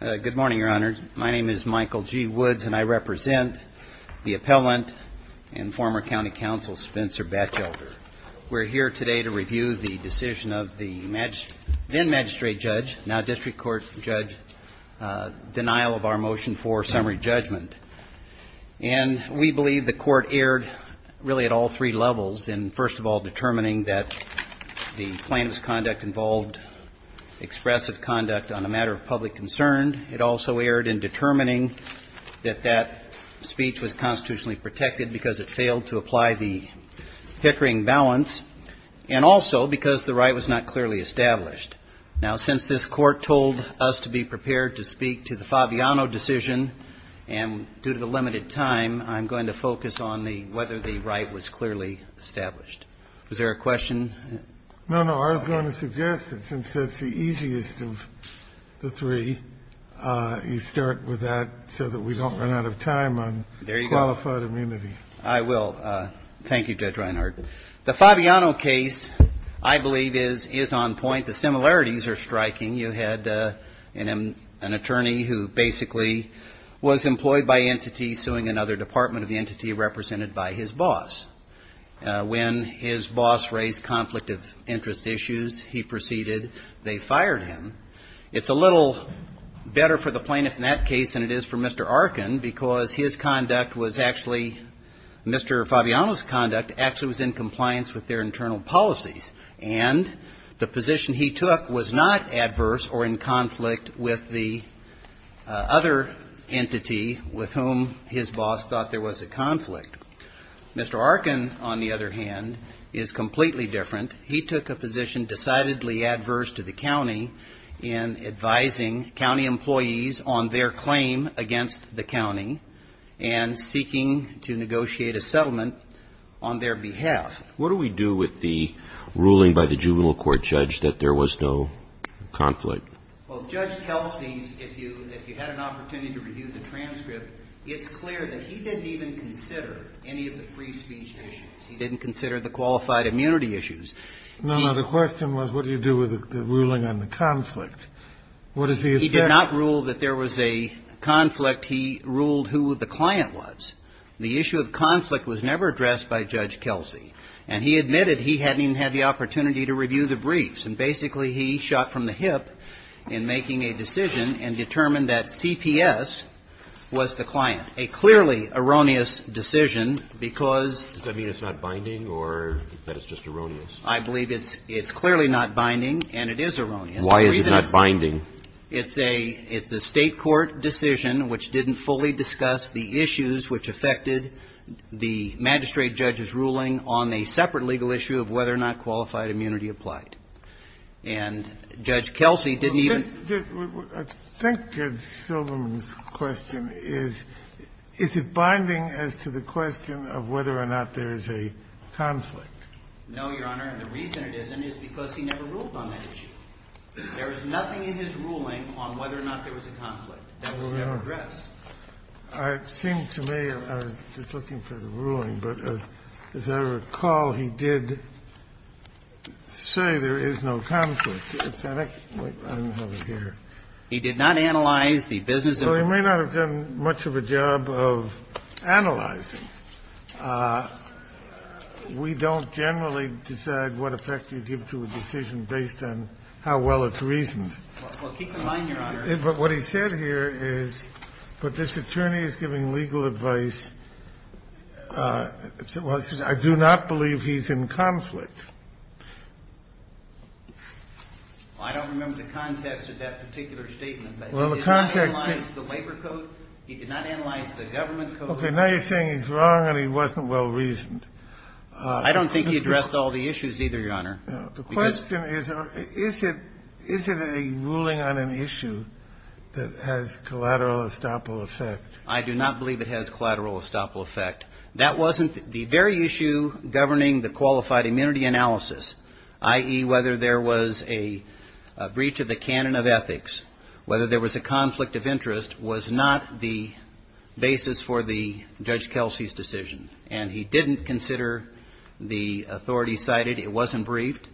Good morning, Your Honors. My name is Michael G. Woods and I represent the appellant and former county counsel Spencer Batchelder. We're here today to review the decision of the then magistrate judge, now district court judge, denial of our motion for summary judgment. And we believe the court erred really at all three levels in first of all determining that the plaintiff's conduct involved expressive conduct on a matter of public concern. It also erred in determining that that speech was constitutionally protected because it failed to apply the Pickering balance and also because the right was not clearly established. Now, since this court told us to be prepared to speak to the Fabiano decision and due to the limited time, I'm going to focus on the whether the right was clearly established. Is there a question? No, no. I was going to suggest that since that's the easiest of the three, you start with that so that we don't run out of time on qualified immunity. I will. Thank you, Judge Reinhardt. The Fabiano case, I believe, is on point. The similarities are striking. You had an attorney who basically was employed by entity suing another department of the entity represented by his boss. When his boss raised conflict of interest issues, he proceeded. They fired him. It's a little better for the plaintiff in that case than it is for Mr. Arkin because his conduct was actually Mr. Fabiano's conduct actually was in compliance with their internal policies. And the position he took was not adverse or in conflict with the other entity with whom his boss thought there was a conflict. Mr. Arkin, on the other hand, is completely different. He took a position decidedly adverse to the county in advising county employees on their claim against the county and seeking to negotiate a settlement on their behalf. What do we do with the ruling by the juvenile court judge that there was no conflict? Well, Judge Kelsey's, if you had an opportunity to review the transcript, it's clear that he didn't even consider any of the free speech issues. He didn't consider the qualified immunity issues. No, no. The question was what do you do with the ruling on the conflict? What does he address? He did not rule that there was a conflict. He ruled who the client was. The issue of conflict was never addressed by Judge Kelsey. And he admitted he hadn't even had the opportunity to review the transcript in making a decision and determined that CPS was the client, a clearly erroneous decision because of the conflict. Does that mean it's not binding or that it's just erroneous? I believe it's clearly not binding and it is erroneous. Why is it not binding? It's a state court decision which didn't fully discuss the issues which affected the magistrate judge's ruling on a separate legal issue of whether or not qualified immunity applied. And Judge Kelsey didn't even ---- I think Judge Silverman's question is, is it binding as to the question of whether or not there is a conflict? No, Your Honor. And the reason it isn't is because he never ruled on that issue. There is nothing in his ruling on whether or not there was a conflict. That was never addressed. Well, Your Honor, it seemed to me, I was just looking for the ruling, but as I recall, he did say there is no conflict. I don't have it here. He did not analyze the business of the court. Well, he may not have done much of a job of analyzing. We don't generally decide what effect you give to a decision based on how well it's reasoned. Well, keep in mind, Your Honor. But what he said here is, but this attorney is giving legal advice. Well, he says, I do not believe he's in conflict. I don't remember the context of that particular statement. Well, the context is ---- He did not analyze the labor code. He did not analyze the government code. Okay. Now you're saying he's wrong and he wasn't well reasoned. I don't think he addressed all the issues either, Your Honor. The question is, is it a ruling on an issue that has collateral estoppel effect? I do not believe it has collateral estoppel effect. That wasn't the very issue governing the qualified immunity analysis, i.e., whether there was a breach of the canon of ethics, whether there was a conflict of interest was not the basis for Judge Kelsey's decision. And he didn't consider the authority cited. It wasn't briefed.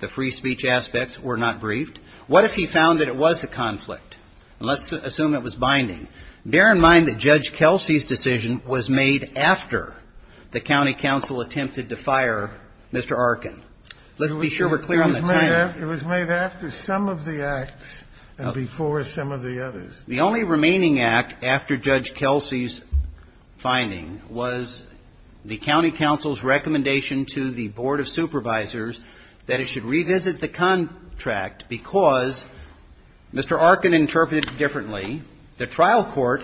The free speech aspects were not briefed. What if he found that it was a conflict? Let's assume it was binding. Bear in mind that Judge Kelsey's decision was made after the county council attempted to fire Mr. Arkin. Let's be sure we're clear on the timing. It was made after some of the acts and before some of the others. The only remaining act after Judge Kelsey's finding was the county council's recommendation to the board of supervisors that it should revisit the contract because Mr. Arkin interpreted it differently. The trial court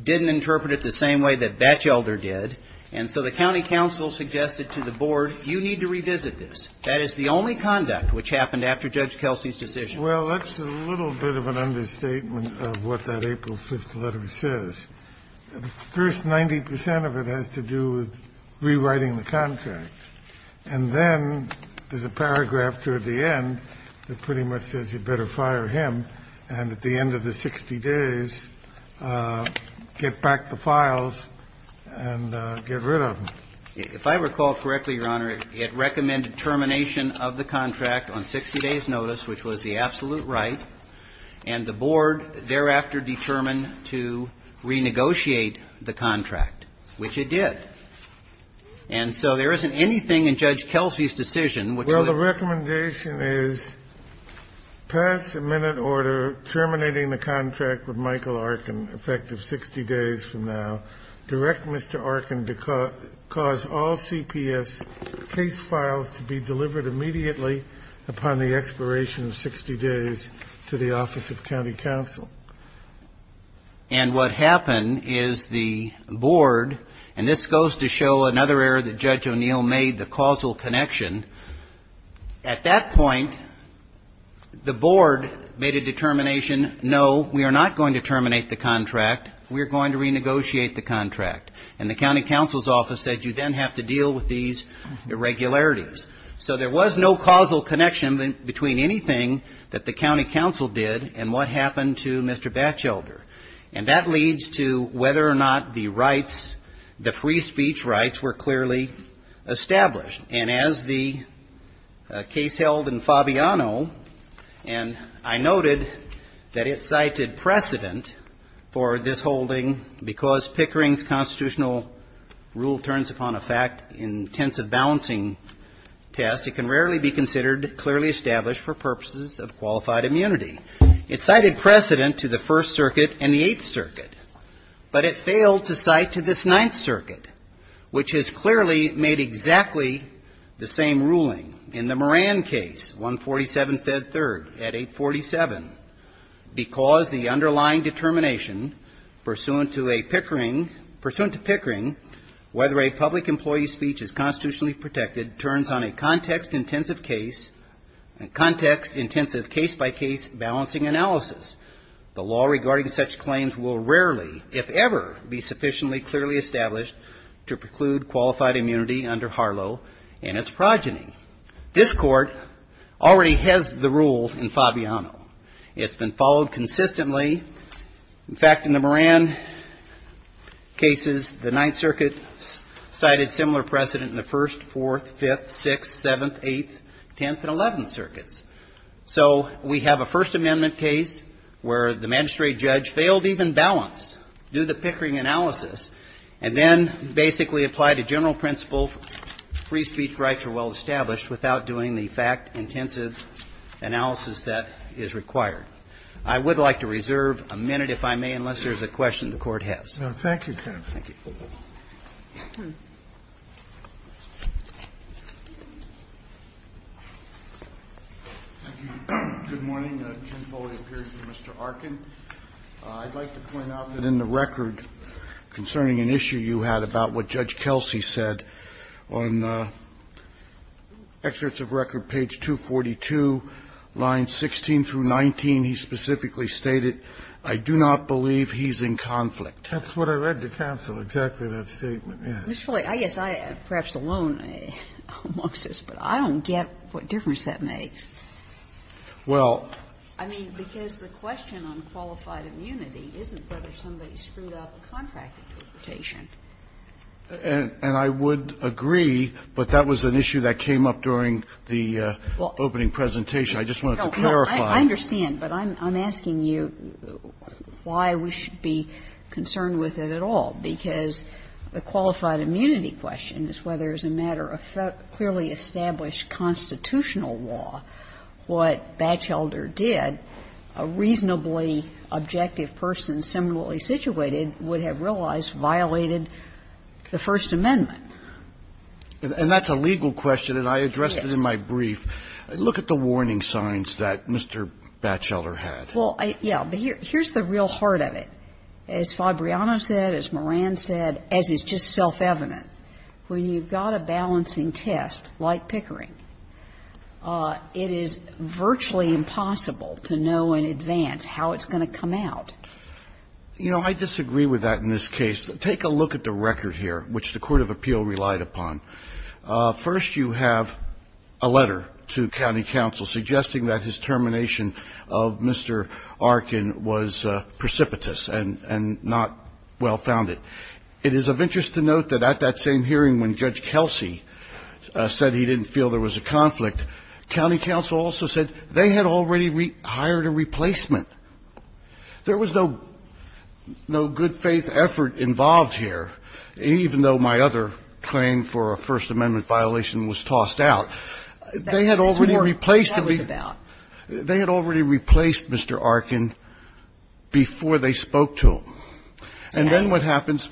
didn't interpret it the same way that Batchelder did. And so the county council suggested to the board, you need to revisit this. That is the only conduct which happened after Judge Kelsey's decision. Kennedy. Well, that's a little bit of an understatement of what that April 5th letter says. The first 90 percent of it has to do with rewriting the contract. And then there's a paragraph toward the end that pretty much says you better fire him and at the end of the 60 days get back the files and get rid of them. If I recall correctly, Your Honor, it recommended termination of the contract on 60 days' notice, which was the absolute right, and the board thereafter determined to renegotiate the contract, which it did. And so there isn't anything in Judge Kelsey's decision which would ---- Well, the recommendation is pass a minute order terminating the contract with Michael Arkin effective 60 days from now. Direct Mr. Arkin to cause all CPS case files to be delivered immediately upon the expiration of 60 days to the office of county council. And what happened is the board, and this goes to show another error that Judge O'Neill made, the causal connection. At that point, the board made a determination, no, we are not going to terminate the contract, we are going to renegotiate the contract. And the county council's office said you then have to deal with these irregularities. So there was no causal connection between anything that the county council did and what happened to Mr. Batchelder. And that leads to whether or not the rights, the free speech rights were clearly established. And as the case held in Fabiano, and I noted that it cited precedent for this holding because Pickering's constitutional rule turns upon a fact-intensive balancing test, it can rarely be considered clearly established for purposes of this case. It cited precedent to the First Circuit and the Eighth Circuit, but it failed to cite to this Ninth Circuit, which has clearly made exactly the same ruling in the Moran case, 147 Fed Third at 847, because the underlying determination pursuant to a Pickering, whether a public employee's speech is constitutionally protected turns on a context-intensive case, a context-intensive case-by-case balancing analysis. The law regarding such claims will rarely, if ever, be sufficiently clearly established to preclude qualified immunity under Harlow and its progeny. This Court already has the rule in Fabiano. It's been followed consistently. In fact, in the Moran cases, the Ninth Circuit cited similar precedent in the First, Fourth, Fifth, Sixth, Seventh, Eighth, Tenth, and Eleventh Circuits. So we have a First Amendment case where the magistrate judge failed even balance, do the Pickering analysis, and then basically apply the general principle, free speech rights are well established, without doing the fact-intensive analysis that is required. I would like to reserve a minute, if I may, unless there's a question the Court would like to ask. Thank you, counsel. Thank you. Thank you. Good morning. Ken Foley here for Mr. Arkin. I'd like to point out that in the record concerning an issue you had about what Judge Kelsey said on excerpts of record, page 242, lines 16 through 19, he specifically stated, I do not believe he's in conflict. That's what I read to counsel, exactly what that statement is. Mr. Foley, I guess I am perhaps alone amongst us, but I don't get what difference that makes. Well. I mean, because the question on qualified immunity isn't whether somebody screwed up a contract interpretation. And I would agree, but that was an issue that came up during the opening presentation. I just wanted to clarify. I understand, but I'm asking you why we should be concerned with it at all, because the qualified immunity question is whether, as a matter of clearly established constitutional law, what Batchelder did, a reasonably objective person similarly situated would have realized violated the First Amendment. And that's a legal question, and I addressed it in my brief. Look at the warning signs that Mr. Batchelder had. Well, yeah, but here's the real heart of it. As Fabriano said, as Moran said, as is just self-evident, when you've got a balancing test like Pickering, it is virtually impossible to know in advance how it's going to come out. You know, I disagree with that in this case. Take a look at the record here, which the court of appeal relied upon. First, you have a letter to county counsel suggesting that his termination of Mr. Arkin was precipitous and not well-founded. It is of interest to note that at that same hearing when Judge Kelsey said he didn't feel there was a conflict, county counsel also said they had already hired a replacement. There was no good faith effort involved here, even though my other claim for a First Amendment violation was tossed out. They had already replaced me. They had already replaced Mr. Arkin before they spoke to him. And then what happens?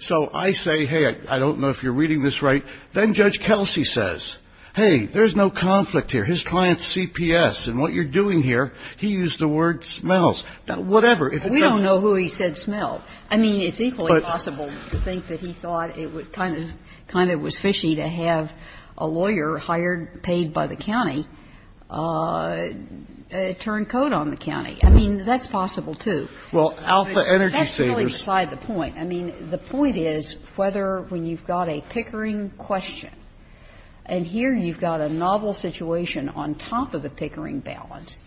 So I say, hey, I don't know if you're reading this right. Then Judge Kelsey says, hey, there's no conflict here. His client's CPS, and what you're doing here, he used the word smells. Now, whatever, if it doesn't mean anything. We don't know who he said smelled. I mean, it's equally possible to think that he thought it kind of was fishy to have a lawyer hired, paid by the county, turn code on the county. I mean, that's possible, too. But that's really beside the point. I mean, the point is whether when you've got a Pickering question, and here you've got a novel situation on top of the Pickering balance,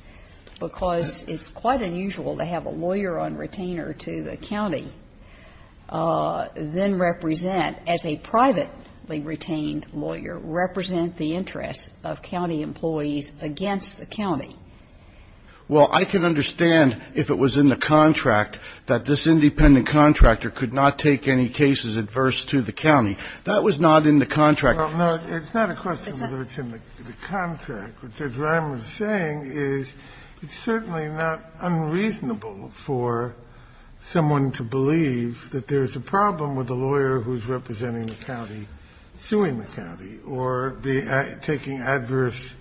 because it's quite unusual to have a lawyer on retainer to the county, then represent, as a privately retained lawyer, represent the interests of county employees against the county. Well, I can understand if it was in the contract that this independent contractor could not take any cases adverse to the county. That was not in the contract. Well, no, it's not a question whether it's in the contract, which is what I'm saying is it's certainly not unreasonable for someone to believe that there's a problem with a lawyer who's representing the county, suing the county, or taking adverse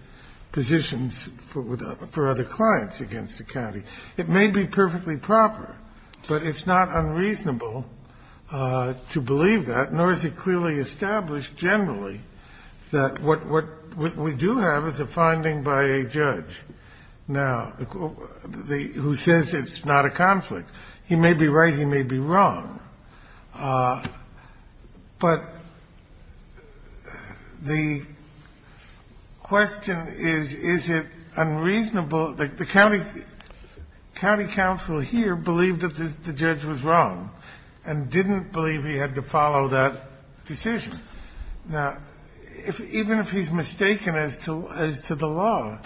positions for other clients against the county. It may be perfectly proper, but it's not unreasonable to believe that, nor is it clearly established generally that what we do have is a finding by a judge. Now, who says it's not a conflict. He may be right, he may be wrong, but the question is, is it unreasonable? The county counsel here believed that the judge was wrong and didn't believe he had to follow that decision. Now, even if he's mistaken as to the law,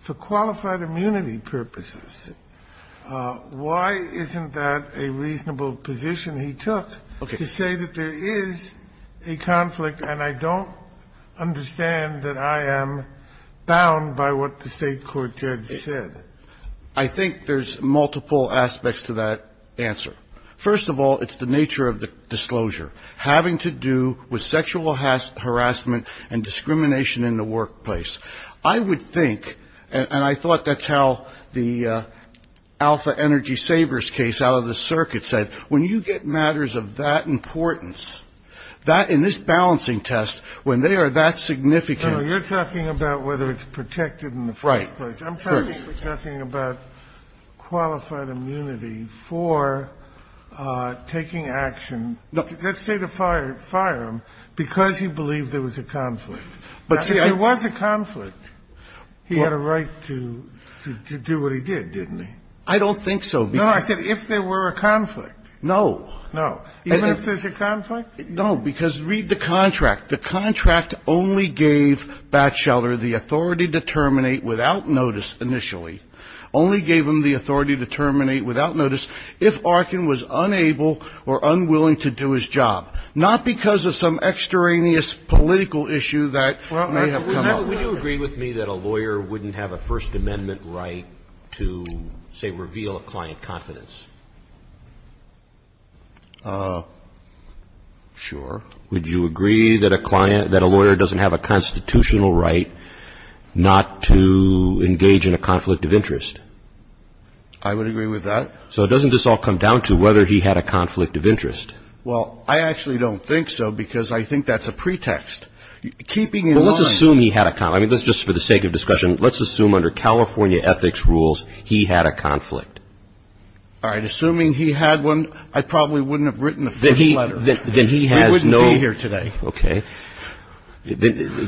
for qualified immunity purposes, why isn't that a reasonable position he took to say that there is a conflict and I don't understand that I am bound by what the State court judge said? I think there's multiple aspects to that answer. First of all, it's the nature of the disclosure. Having to do with sexual harassment and discrimination in the workplace. I would think, and I thought that's how the Alpha Energy Savers case out of the circuit said, when you get matters of that importance, that in this balancing test, when they are that significant. Kennedy, you're talking about whether it's protected in the first place. I'm talking about qualified immunity for taking action. Let's say the firearm, because he believed there was a conflict. If there was a conflict, he had a right to do what he did, didn't he? I don't think so. No, I said if there were a conflict. No. No. Even if there's a conflict? No. Because read the contract. The contract only gave Batchelder the authority to terminate without notice initially. Only gave him the authority to terminate without notice if Arkin was unable or unwilling to do his job. Not because of some extraneous political issue that may have come up. Would you agree with me that a lawyer wouldn't have a First Amendment right to, say, reveal a client confidence? Sure. Would you agree that a client, that a lawyer doesn't have a constitutional right not to engage in a conflict of interest? I would agree with that. So doesn't this all come down to whether he had a conflict of interest? Well, I actually don't think so, because I think that's a pretext. Keeping in mind... Well, let's assume he had a conflict. I mean, just for the sake of discussion, let's assume under California ethics rules, he had a conflict. All right. Assuming he had one, I probably wouldn't have written the first letter. Then he has no... We wouldn't be here today. Okay.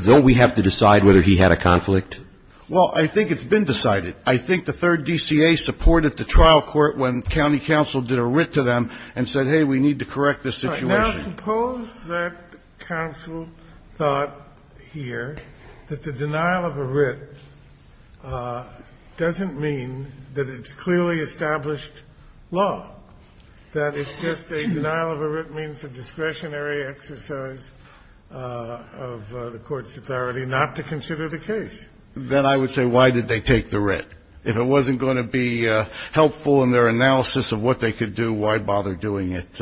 Don't we have to decide whether he had a conflict? Well, I think it's been decided. I think the third DCA supported the trial court when county counsel did a writ to them and said, hey, we need to correct this situation. Now, suppose that counsel thought here that the denial of a writ doesn't mean that it's clearly established law, that it's just a denial of a writ means a discretionary exercise of the court's authority not to consider the case. Then I would say, why did they take the writ? If it wasn't going to be helpful in their analysis of what they could do, why bother doing it?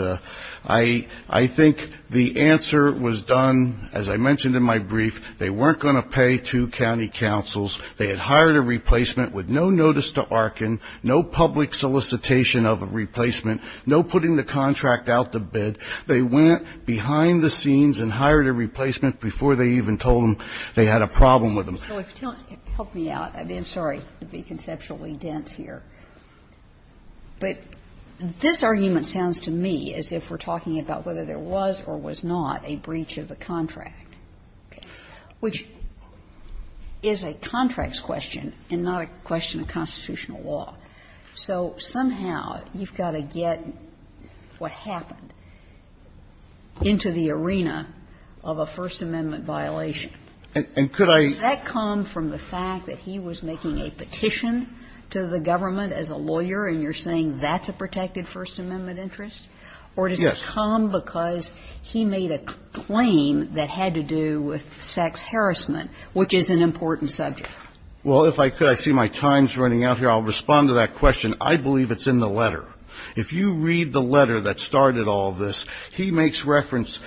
I think the answer was done, as I mentioned in my brief, they weren't going to pay two county counsels. They had hired a replacement with no notice to Arkin, no public solicitation of a replacement, no putting the contract out to bid. They went behind the scenes and hired a replacement before they even told them they had a problem with them. Help me out. I'm sorry to be conceptually dense here. But this argument sounds to me as if we're talking about whether there was or was not a breach of the contract, which is a contracts question and not a question of constitutional law. So somehow you've got to get what happened into the arena of a First Amendment violation. And could I do that? So does that come from the fact that he was making a petition to the government as a lawyer and you're saying that's a protected First Amendment interest? Or does it come because he made a claim that had to do with sex harassment, which is an important subject? Well, if I could, I see my time's running out here. I'll respond to that question. I believe it's in the letter. If you read the letter that started all this, he makes reference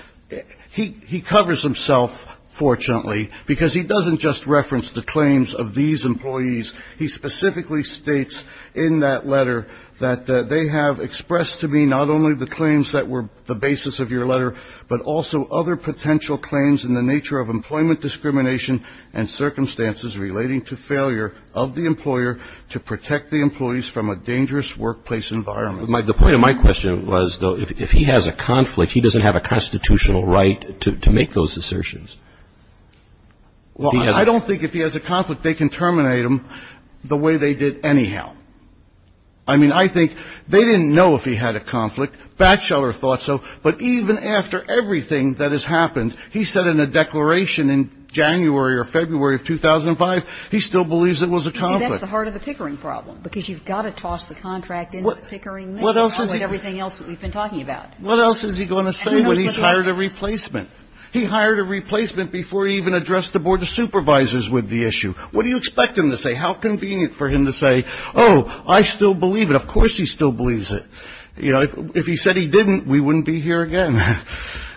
he covers himself, fortunately, because he doesn't just reference the claims of these employees. He specifically states in that letter that they have expressed to me not only the claims that were the basis of your letter, but also other potential claims in the nature of employment discrimination and circumstances relating to failure of the employer to protect the employees from a dangerous workplace environment. The point of my question was, though, if he has a conflict, he doesn't have a constitutional right to make those assertions. Well, I don't think if he has a conflict, they can terminate him the way they did anyhow. I mean, I think they didn't know if he had a conflict. Batchelor thought so. But even after everything that has happened, he said in a declaration in January or February of 2005, he still believes it was a conflict. You see, that's the heart of the pickering problem, because you've got to toss the contract into the pickering mix, as well as everything else that we've been talking about. What else is he going to say when he's hired a replacement? He hired a replacement before he even addressed the Board of Supervisors with the issue. What do you expect him to say? How convenient for him to say, oh, I still believe it. Of course he still believes it. You know, if he said he didn't, we wouldn't be here again.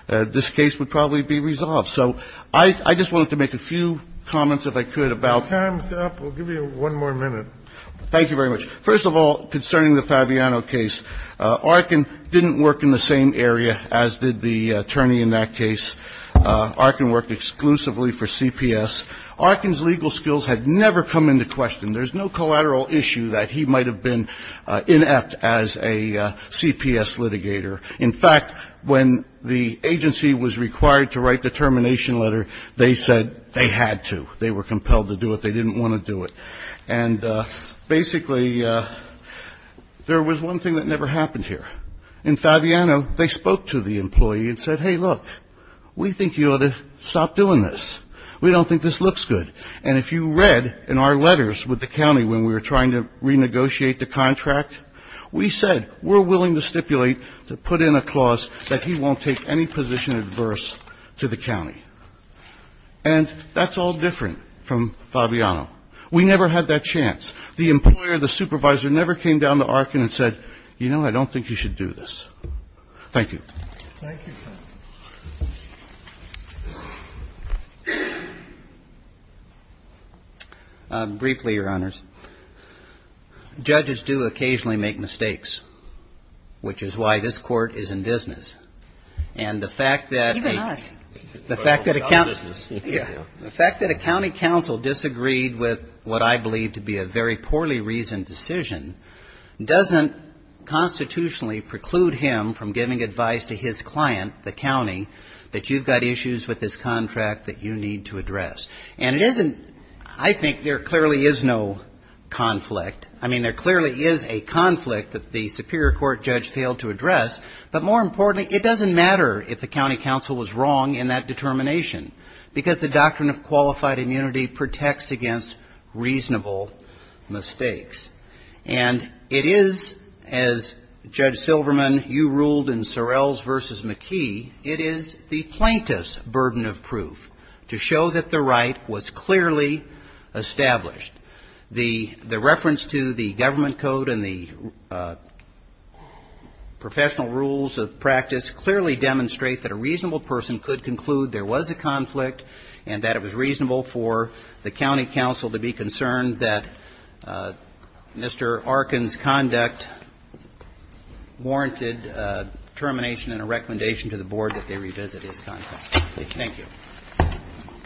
This case would probably be resolved. So I just wanted to make a few comments, if I could, about the case. Time's up. We'll give you one more minute. Thank you very much. First of all, concerning the Fabiano case, Arkin didn't work in the same area as did the attorney in that case. Arkin worked exclusively for CPS. Arkin's legal skills had never come into question. There's no collateral issue that he might have been inept as a CPS litigator. In fact, when the agency was required to write the termination letter, they said they had to. They were compelled to do it. They didn't want to do it. And basically, there was one thing that never happened here. In Fabiano, they spoke to the employee and said, hey, look, we think you ought to stop doing this. We don't think this looks good. And if you read in our letters with the county when we were trying to renegotiate the contract, we said we're willing to stipulate to put in a clause that he won't take any position adverse to the county. And that's all different from Fabiano. We never had that chance. The employer, the supervisor, never came down to Arkin and said, you know, I don't think you should do this. Thank you. Thank you, Judge. Briefly, Your Honors, judges do occasionally make mistakes, which is why this Court is in business. And the fact that a county counsel disagreed with what I believe to be a very poorly reasoned decision doesn't constitutionally preclude him from giving advice to his client, the county, that you've got issues with this contract that you need to address. And it isn't, I think there clearly is no conflict. I mean, there clearly is a conflict that the Superior Court judge failed to address. But more importantly, it doesn't matter if the county counsel was wrong in that determination because the doctrine of qualified immunity protects against reasonable mistakes. And it is, as Judge Silverman, you ruled in Sorrells v. McKee, it is the plaintiff's burden of proof to show that the right was clearly established. The reference to the government code and the professional rules of practice clearly demonstrate that a reasonable person could conclude there was a conflict and that it was reasonable for the county counsel to be concerned that Mr. Arkin's conduct warranted termination and a recommendation to the board that they revisit his contract. Thank you.